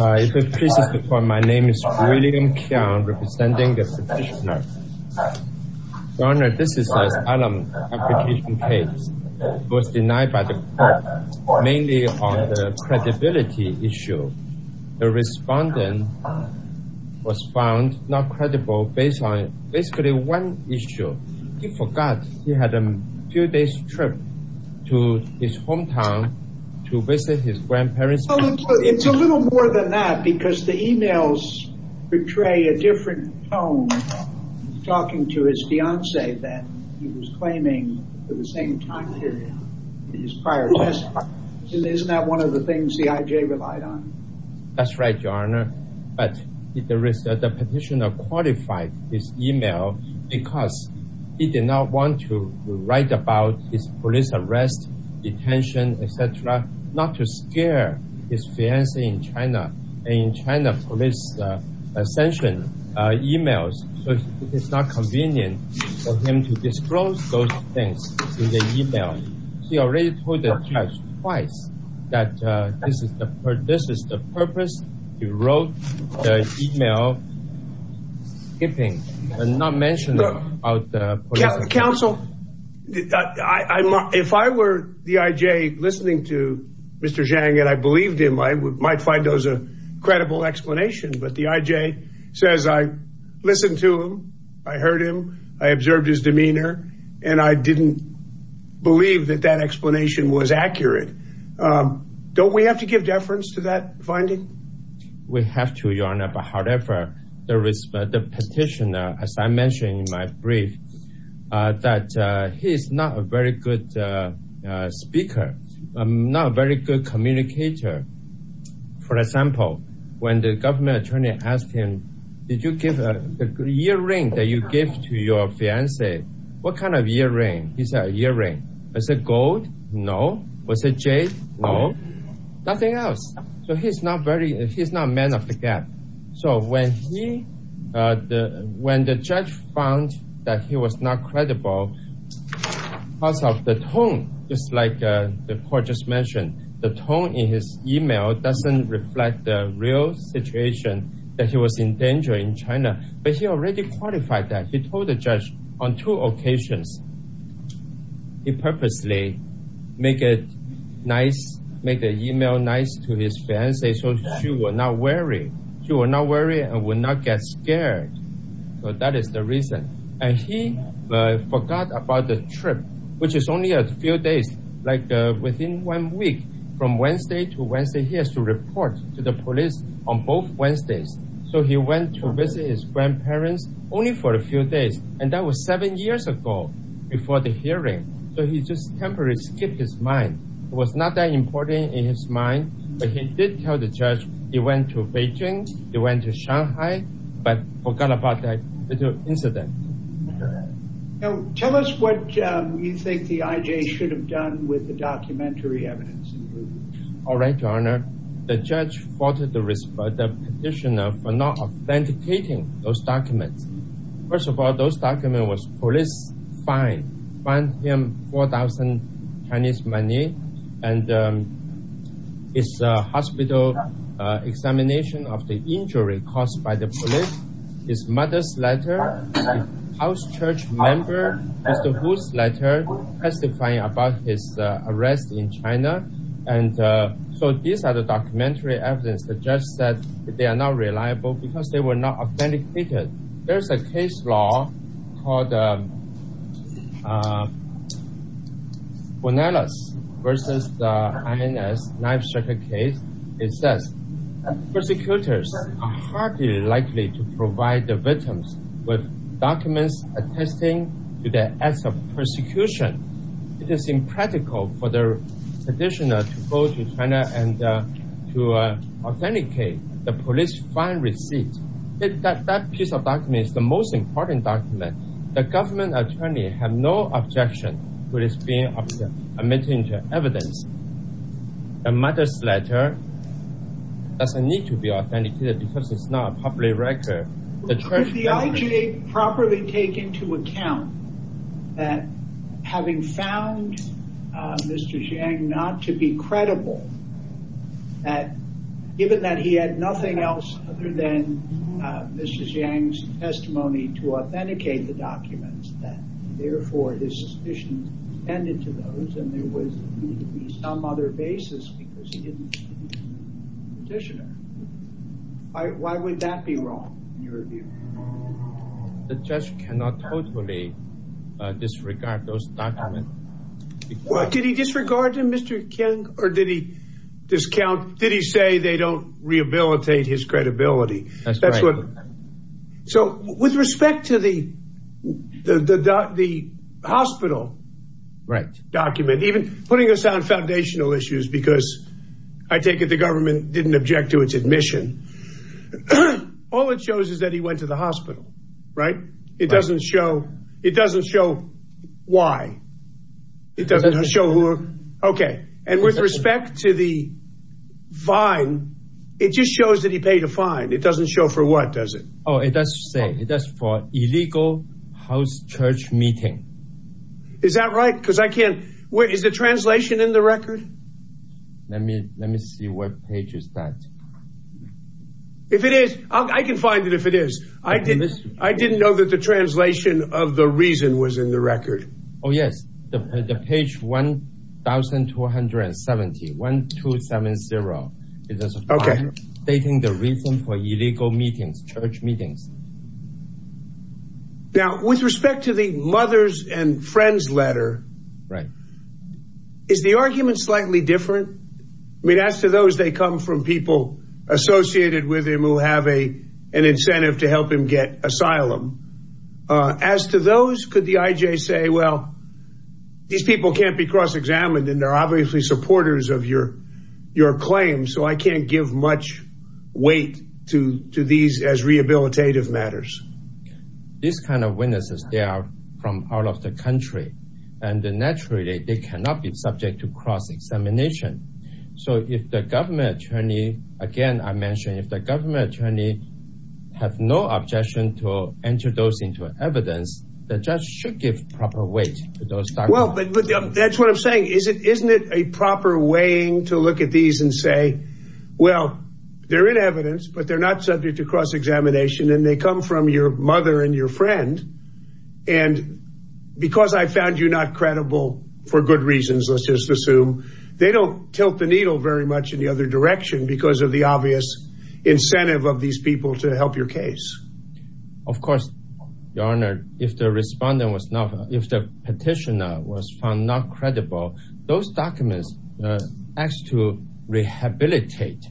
If it pleases the court, my name is William Qiang, representing the petitioner. Your Honor, this is an alarm application case. It was denied by the court, mainly on the credibility issue. The respondent was found not credible based on basically one issue. He forgot he had a few days trip to his hometown to visit his grandparents. It's a little more than that because the emails portray a different tone. He's talking to his fiancée that he was claiming for the same time period in his prior test. Isn't that one of the things the IJ relied on? That's right, Your Honor. But the petitioner qualified his email because he did not want to write about his police arrest, detention, etc., not to scare his fiancée in China. In China, police sanction emails, so it's not convenient for him to disclose those things in the email. He already told the judge twice that this is the purpose. He wrote the email skipping and not mentioning about the police arrest. Counsel, if I were the IJ listening to Mr. Zhang and I believed him, I might find those a credible explanation. But the IJ says I listened to him, I heard him, I observed his demeanor, and I didn't believe that that explanation was accurate. Don't we have to give deference to that the petitioner, as I mentioned in my brief, that he's not a very good speaker, not a very good communicator. For example, when the government attorney asked him, did you give the earring that you gave to your fiancée? What kind of earring? He said, earring. Is it gold? No. Was it jade? No. Nothing else. So he's not man of the gap. So when he, when the judge found that he was not credible, because of the tone, just like the court just mentioned, the tone in his email doesn't reflect the real situation that he was in danger in China. But he already qualified that. He told the judge on two occasions, he purposely make it nice, make the email nice to his fiancée so she will not worry and will not get scared. So that is the reason. And he forgot about the trip, which is only a few days, like within one week from Wednesday to Wednesday, he has to report to the police on both Wednesdays. So he went to visit his grandparents only for a few days, and that was seven years ago before the hearing. So he just temporarily skipped his mind. It was not that important in his mind, but he did tell the judge he went to Beijing, he went to Shanghai, but forgot about that incident. Tell us what you think the IJ should have done with the documentary evidence. All right, Your Honor. The judge faulted the petitioner for not authenticating those documents. And his hospital examination of the injury caused by the police, his mother's letter, house church member, Mr. Hu's letter testifying about his arrest in China. And so these are the documentary evidence. The judge said they are not reliable because they were not authenticated. There's a case law called Bonelos versus the INS knife striker case. It says, persecutors are hardly likely to provide the victims with documents attesting to the acts of persecution. It is impractical for the petitioner to go to China and to authenticate the police fine receipt. That piece of document is the most important document. The government attorney has no objection to this being admitted into evidence. The mother's letter doesn't need to be authenticated because it's not a public record. Could the IJ properly take into account that having found Mr. Jiang not to be credible, that given that he had nothing else other than Mr. Jiang's testimony to authenticate the documents, that therefore his suspicions tended to those and there was some other basis because he didn't petitioner. Why would that be wrong in your view? The judge cannot totally disregard those documents. Well, did he disregard Mr. Jiang or did he discount, did he say they don't rehabilitate his credibility? So with respect to the hospital document, even putting us on foundational issues because I take it the government didn't object to its admission. All it shows is that he went the hospital, right? It doesn't show why it doesn't show who. Okay. And with respect to the fine, it just shows that he paid a fine. It doesn't show for what does it? Oh, it does say it does for illegal house church meeting. Is that right? Because I can't wait. Is the translation in the record? Let me, let me see what page is that. If it is, I can find it. If it is, I didn't, I didn't know that the translation of the reason was in the record. Oh yes. The page 1,270, 1,270. Okay. Stating the reason for illegal meetings, church meetings. Okay. Now with respect to the mother's and friends letter, right? Is the argument slightly different? I mean, as to those, they come from people associated with him who have a, an incentive to help him get asylum. Uh, as to those, could the IJ say, well, these people can't be cross-examined and they're obviously supporters of your, your claim. So I can't give much weight to, to these as rehabilitative matters. These kinds of witnesses, they are from out of the country and naturally they cannot be subject to cross-examination. So if the government attorney, again, I mentioned, if the government attorney have no objection to introducing to evidence, the judge should give proper weight. Well, but that's what I'm saying. Is it, isn't it a proper weighing to look at these and say, well, they're in evidence, but they're not subject to cross-examination and they come from your mother and your friend. And because I found you not credible for good reasons, let's just assume they don't tilt the needle very much in the other direction because of the obvious incentive of these people to help your case. Of course, your honor, if the respondent was not, if the petitioner was found not credible, those documents asked to rehabilitate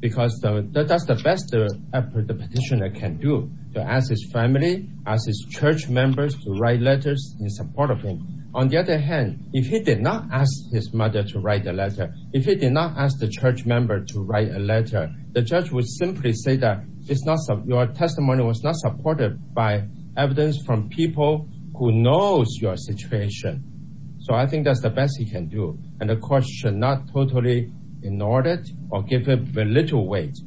because that's the best effort the petitioner can do to ask his family, ask his church members to write letters in support of him. On the other hand, if he did not ask his mother to write a letter, if he did not ask the church member to write a letter, the judge would simply say that it's not your testimony was not supported by evidence from people who knows your situation. So I think that's the best he can do. And the court should not totally ignore it or give him a little weight,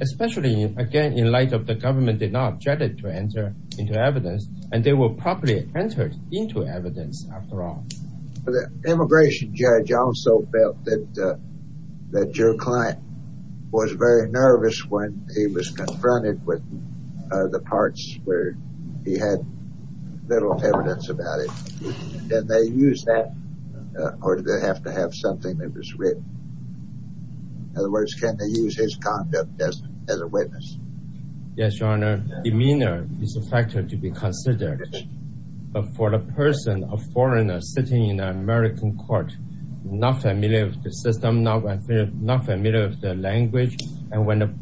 especially again, in light of the government did not object to enter into evidence and they will probably enter into evidence after all. The immigration judge also felt that that your client was very nervous when he was confronted with the parts where he had little evidence about it. Did they use that or did they have to have something that was written? In other words, can they use his conduct as a witness? Yes, your honor, demeanor is a factor to be considered. But for a person, a foreigner sitting in an American court, not familiar with system, not familiar with the language. And when the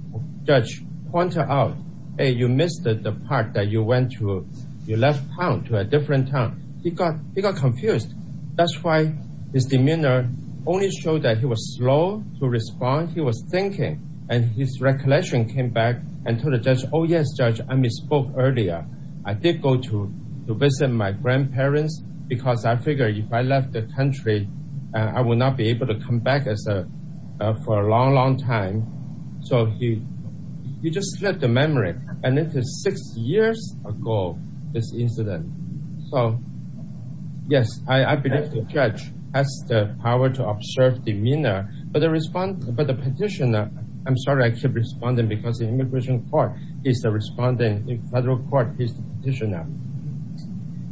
judge pointed out, hey, you missed the part that you went to, you left town to a different town. He got confused. That's why his demeanor only showed that he was slow to respond. He was thinking and his recollection came back and told the judge, oh yes, judge, I misspoke earlier. I did go to visit my grandparents because I figured if I left the country, I would not be able to come back for a long, long time. So he just left the memory and it is six years ago, this incident. So yes, I believe the judge has the power to observe demeanor, but the petitioner, I'm sorry, I keep responding because the immigration court is the respondent, the federal court is the petitioner.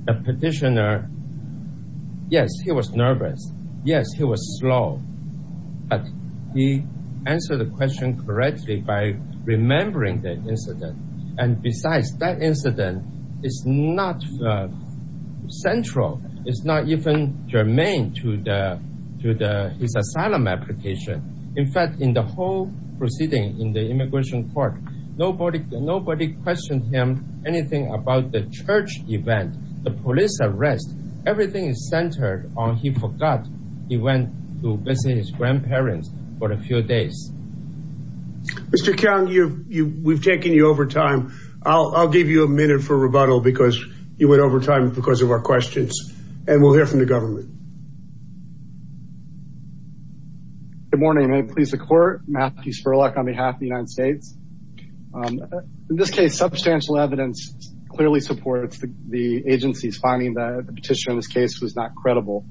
The petitioner, yes, he was nervous. Yes, he was slow, but he answered the question correctly by remembering the incident. And besides, that incident is not central. It's not even germane to his asylum application. In fact, in the whole proceeding in the immigration court, nobody questioned him, anything about the church event, the police arrest, everything is centered on he forgot he went to visit his grandparents for a few days. Mr. Chiang, we've taken you over time. I'll give you a minute for rebuttal because you went over time because of our questions and we'll hear from the government. Good morning. May it please the court, Matthew Spurlock on behalf of the United States. In this case, substantial evidence clearly supports the agency's finding that the petitioner in this case was not credible.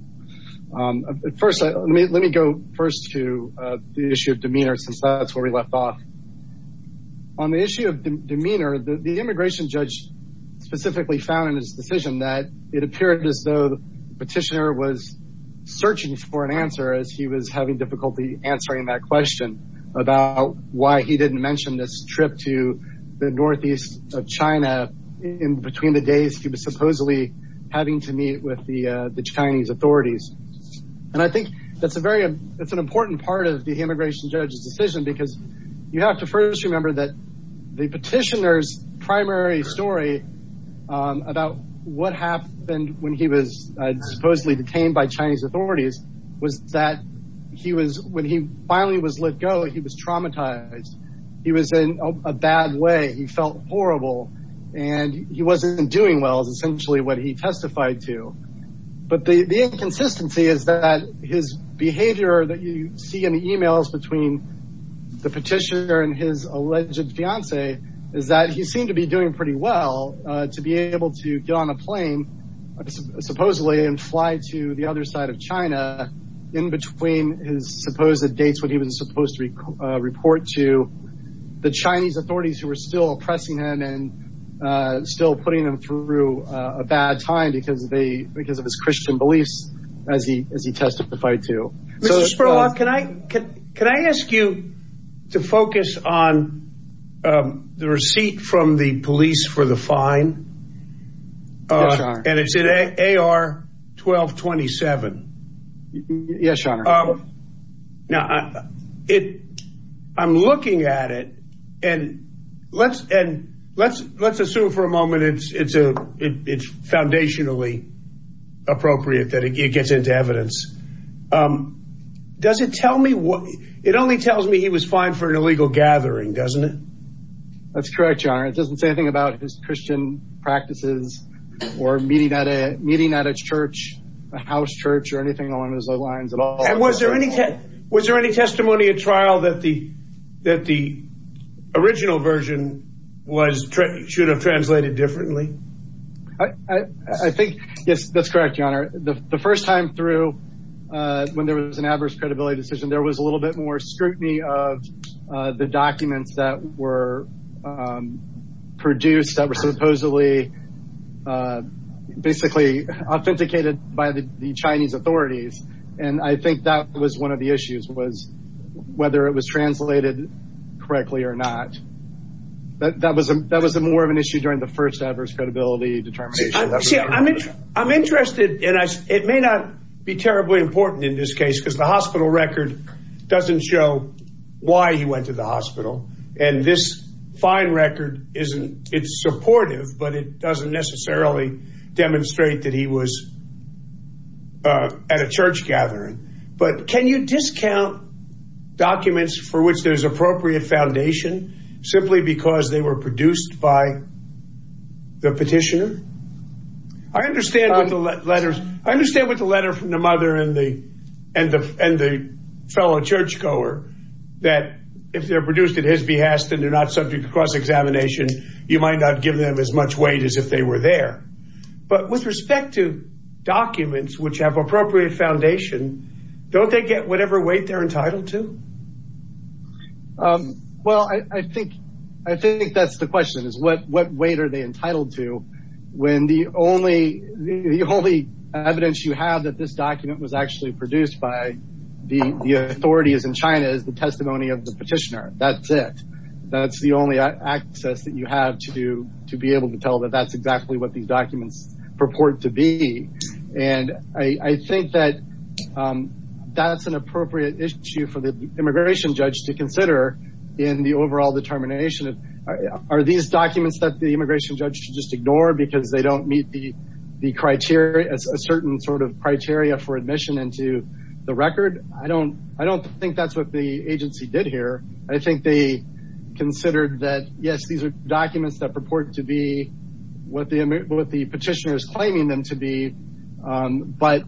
First, let me go first to the issue of demeanor since that's where we left off. On the issue of demeanor, the immigration judge specifically found in his decision that it appeared as though the petitioner was searching for an answer as he was having difficulty answering that question about why he didn't mention this trip to the northeast of China in between the days he was supposedly having to meet with the Chinese authorities. And I think that's an important part of the immigration judge's decision because you have to first remember that the petitioner's primary story about what happened when he was supposedly detained by Chinese authorities was that when he finally was let go, he was traumatized. He was in a bad way. He felt horrible and he wasn't doing well is essentially what he testified to. But the inconsistency is that his behavior that you see in the emails between the petitioner and his alleged fiancee is that he seemed to be doing pretty well to be able to get on a plane supposedly and fly to the other side of China in between his supposed dates when he was supposed to report to the Chinese authorities who were still oppressing him and still putting him through a bad time because of his Christian beliefs as he testified to. Mr. Spurlock, can I ask you to focus on the receipt from the police for the fine? Yes, your honor. And it's in AR 1227. Yes, your honor. Now, I'm looking at it and let's assume for a moment it's foundationally appropriate that it gets into evidence. Does it tell me what it only tells me he was fined for an illegal gathering, doesn't it? That's correct, your honor. It doesn't say anything about his Christian practices or meeting at a meeting at a church, a house church or anything along those lines at all. And was there any was there any testimony at trial that the that the original version was should have translated differently? I think yes, that's correct, your honor. The first time through when there was an adverse credibility decision, there was a little bit more scrutiny of the documents that were produced that were supposedly basically authenticated by the Chinese authorities. And I think that was one of the issues was whether it was translated correctly or not. But that was that was more of an issue during the first adverse credibility determination. I'm interested and it may not be terribly important in this case because the hospital record doesn't show why he went to the hospital. And this fine record isn't it's supportive, but it doesn't necessarily demonstrate that he was at a church gathering. But can you discount documents for which there's appropriate foundation simply because they were produced by the petitioner? I understand the letters. I understand what the letter from the mother and the and the and the fellow church goer that if they're produced at his behest and they're not subject to cross examination, you might not give them as much weight as if they were there. But with respect to documents which have appropriate foundation, don't they get whatever weight they're entitled to? Well, I think I think that's the question is what what weight are they entitled to? When the only the only evidence you have that this document was actually produced by the authorities in China is the testimony of the petitioner. That's it. That's the only access that you have to to be able to tell that that's exactly what these documents purport to be. And I think that that's an appropriate issue for the immigration judge to consider in the overall determination. Are these documents that the immigration judge should just ignore because they don't meet the criteria as a certain sort of criteria for admission into the record? I don't think that's what the agency did here. I think they considered that, yes, these are documents that purport to be what the what the petitioner is claiming them to be. But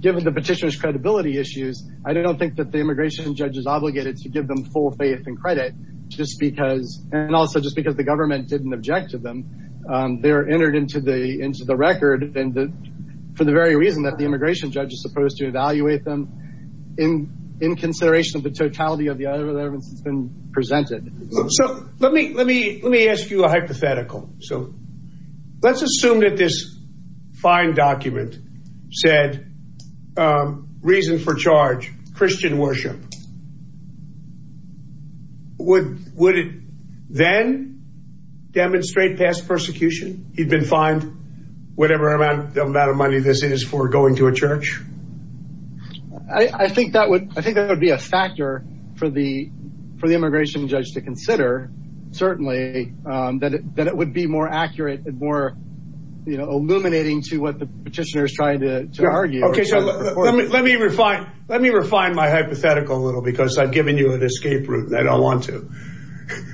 given the petitioner's credibility issues, I don't think that the immigration judge is obligated to give them full faith and credit just because and also just because the government didn't object to them. They're entered into the into the record. And for the very reason that the immigration judge is supposed to evaluate them in in consideration of the totality of the other evidence that's been presented. So let me let me let me ask you a hypothetical. So let's assume that this fine document said reason for charge, Christian worship. Would it then demonstrate past persecution? He'd been fined whatever amount of money this is for going to a church. I think that would I think that would be a factor for the for the immigration judge to consider, certainly that that it would be more accurate and more illuminating to what the petitioner is trying to argue. OK, so let me let me refine let me refine my hypothetical a little because I've given you an escape route and I don't want to.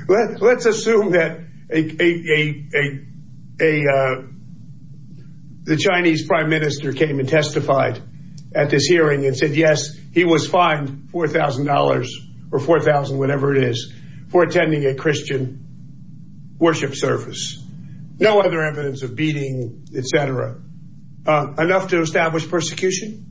Let's assume that a a a a a the Chinese prime minister came and testified at this hearing and said, yes, he was fined four thousand dollars or four thousand, whatever it is, for attending a Christian worship service. No other evidence of beating, et cetera. Enough to establish persecution?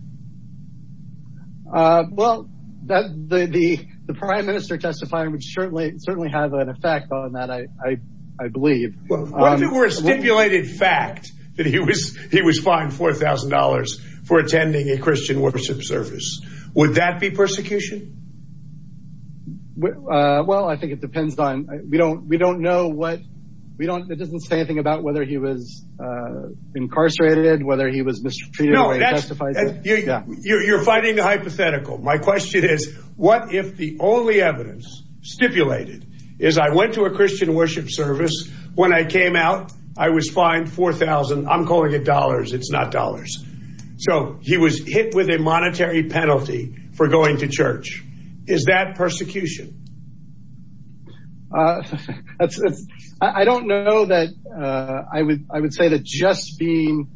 Well, that the the prime minister testifying would certainly certainly have an effect on that. I believe it were a stipulated fact that he was he was fined four thousand dollars for attending a Christian worship service. Would that be persecution? Well, I think it depends on we don't we don't know what we don't. It doesn't say anything about whether he was incarcerated, whether he was mistreated or justified. You're fighting the hypothetical. My question is, what if the only evidence stipulated is I went to Christian worship service. When I came out, I was fined four thousand. I'm calling it dollars. It's not dollars. So he was hit with a monetary penalty for going to church. Is that persecution? I don't know that I would I would say that just being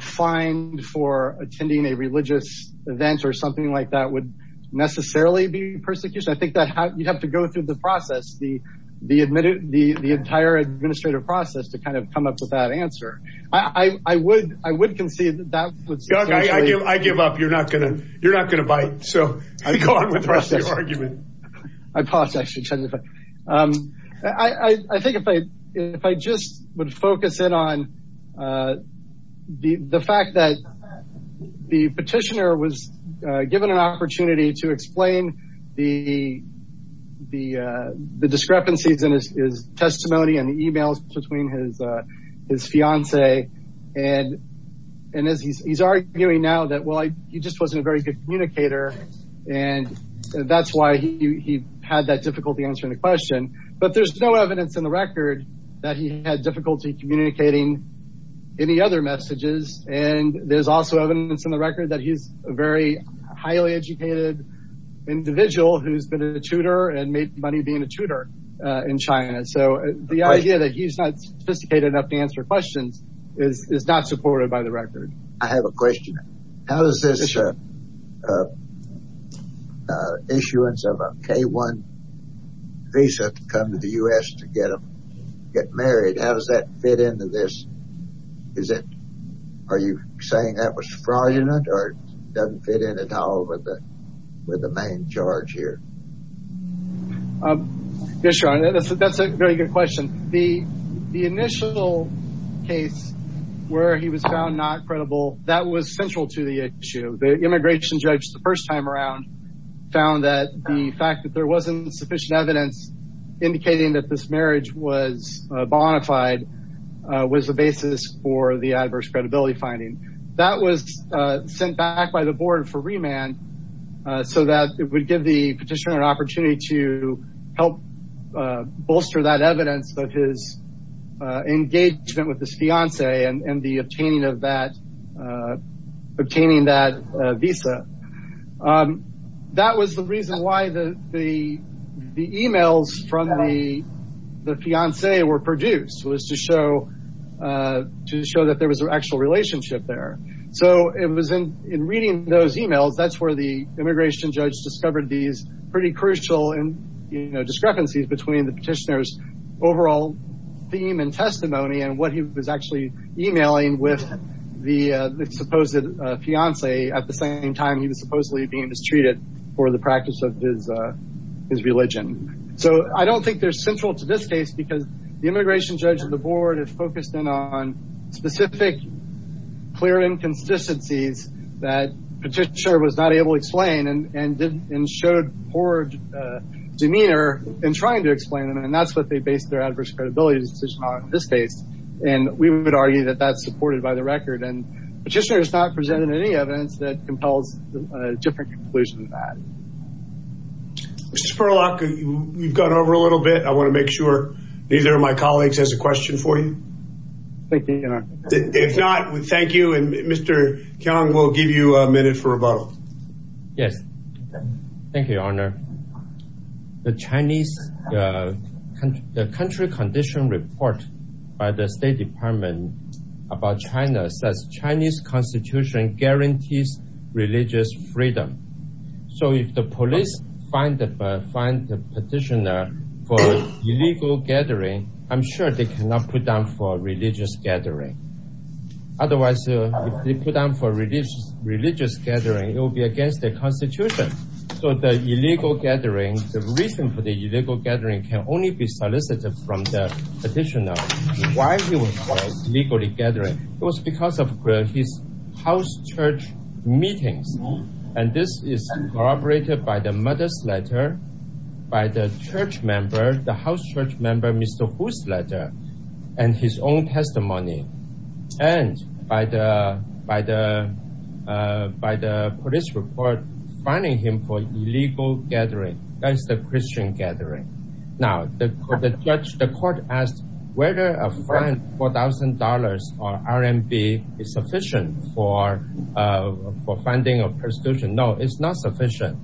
fined for attending a religious event or something like that would necessarily be the the admitted the the entire administrative process to kind of come up with that answer. I would I would concede that I give up. You're not going to you're not going to bite. So I go on with the rest of your argument. I think if I if I just would focus in on the fact that the petitioner was given an opportunity to explain the the discrepancies in his testimony and the emails between his his fiance and and as he's arguing now that, well, he just wasn't a very good communicator. And that's why he had that difficult to answer the question. But there's no evidence in the record that he had difficulty communicating any other messages. And there's also evidence in the record that he's a very highly educated individual who's been a tutor and made money being a tutor in China. So the idea that he's not sophisticated enough to answer questions is not supported by the record. I have a question. How does this issuance of a K-1 visa come to the U.S. to get married? How does that fit into this? Is it are you saying that was fraudulent or doesn't fit in at all with the with the main charge here? Yes, that's a very good question. The the initial case where he was found not credible, that was central to the issue. The immigration judge the first time around found that the fact that there wasn't sufficient evidence indicating that this marriage was bona fide was the basis for the adverse credibility finding that was sent back by the board for remand so that it would give the petitioner an opportunity to help bolster that evidence that his engagement with his fiance and the obtaining of that obtaining that visa. That was the reason why the the the emails from the the fiance were produced was to show to show that there was an actual relationship there. So it was in in reading those emails that's where the immigration judge discovered these pretty crucial and you know discrepancies between the petitioner's overall theme and testimony and what he was actually emailing with the supposed fiance at the same time he was supposedly being mistreated for the practice of his his religion. So I don't think they're central to this case because the immigration judge of the board has focused in on specific clear inconsistencies that petitioner was not able to explain and and didn't and showed poor demeanor in trying to explain them and that's what they based their adverse credibility decision on in this case and we would argue that that's supported by the record and petitioner has not presented any evidence that compels a different conclusion to that. Mr. Spurlock, you've gone over a little bit I want to make sure neither of my colleagues has a question for you. Thank you. If not, thank you and Mr. Keong will give you a minute for rebuttal. Yes, thank you your honor. The Chinese country condition report by the state department about China says Chinese constitution guarantees religious freedom so if the police find the petitioner for illegal gathering I'm sure they cannot put down for religious gathering otherwise if they put down for religious gathering it will be against the constitution so the illegal gathering the reason for the illegal gathering can only be solicited from the legally gathering it was because of his house church meetings and this is corroborated by the mother's letter by the church member the house church member Mr. Hu's letter and his own testimony and by the by the by the police report finding him for illegal gathering that is the Christian gathering now the judge the court asked whether a fine four thousand dollars or RMB is sufficient for uh for funding of persecution no it's not sufficient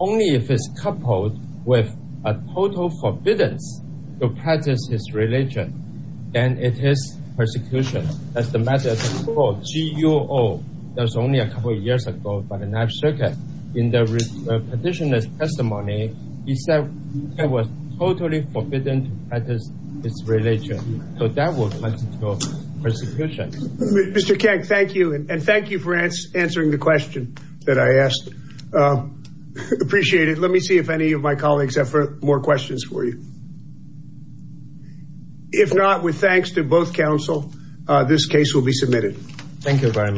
only if it's coupled with a total forbiddance to practice his religion then it is persecution that's the matter of the court guo that's only a couple of years ago by the national circuit in the petitioner's testimony he said it was totally forbidden to practice his religion so that will constitute persecution Mr. Kang thank you and thank you for answering the question that I asked appreciate it let me see if any of my colleagues have more questions for you if not with thanks to both council this case will be submitted thank you very much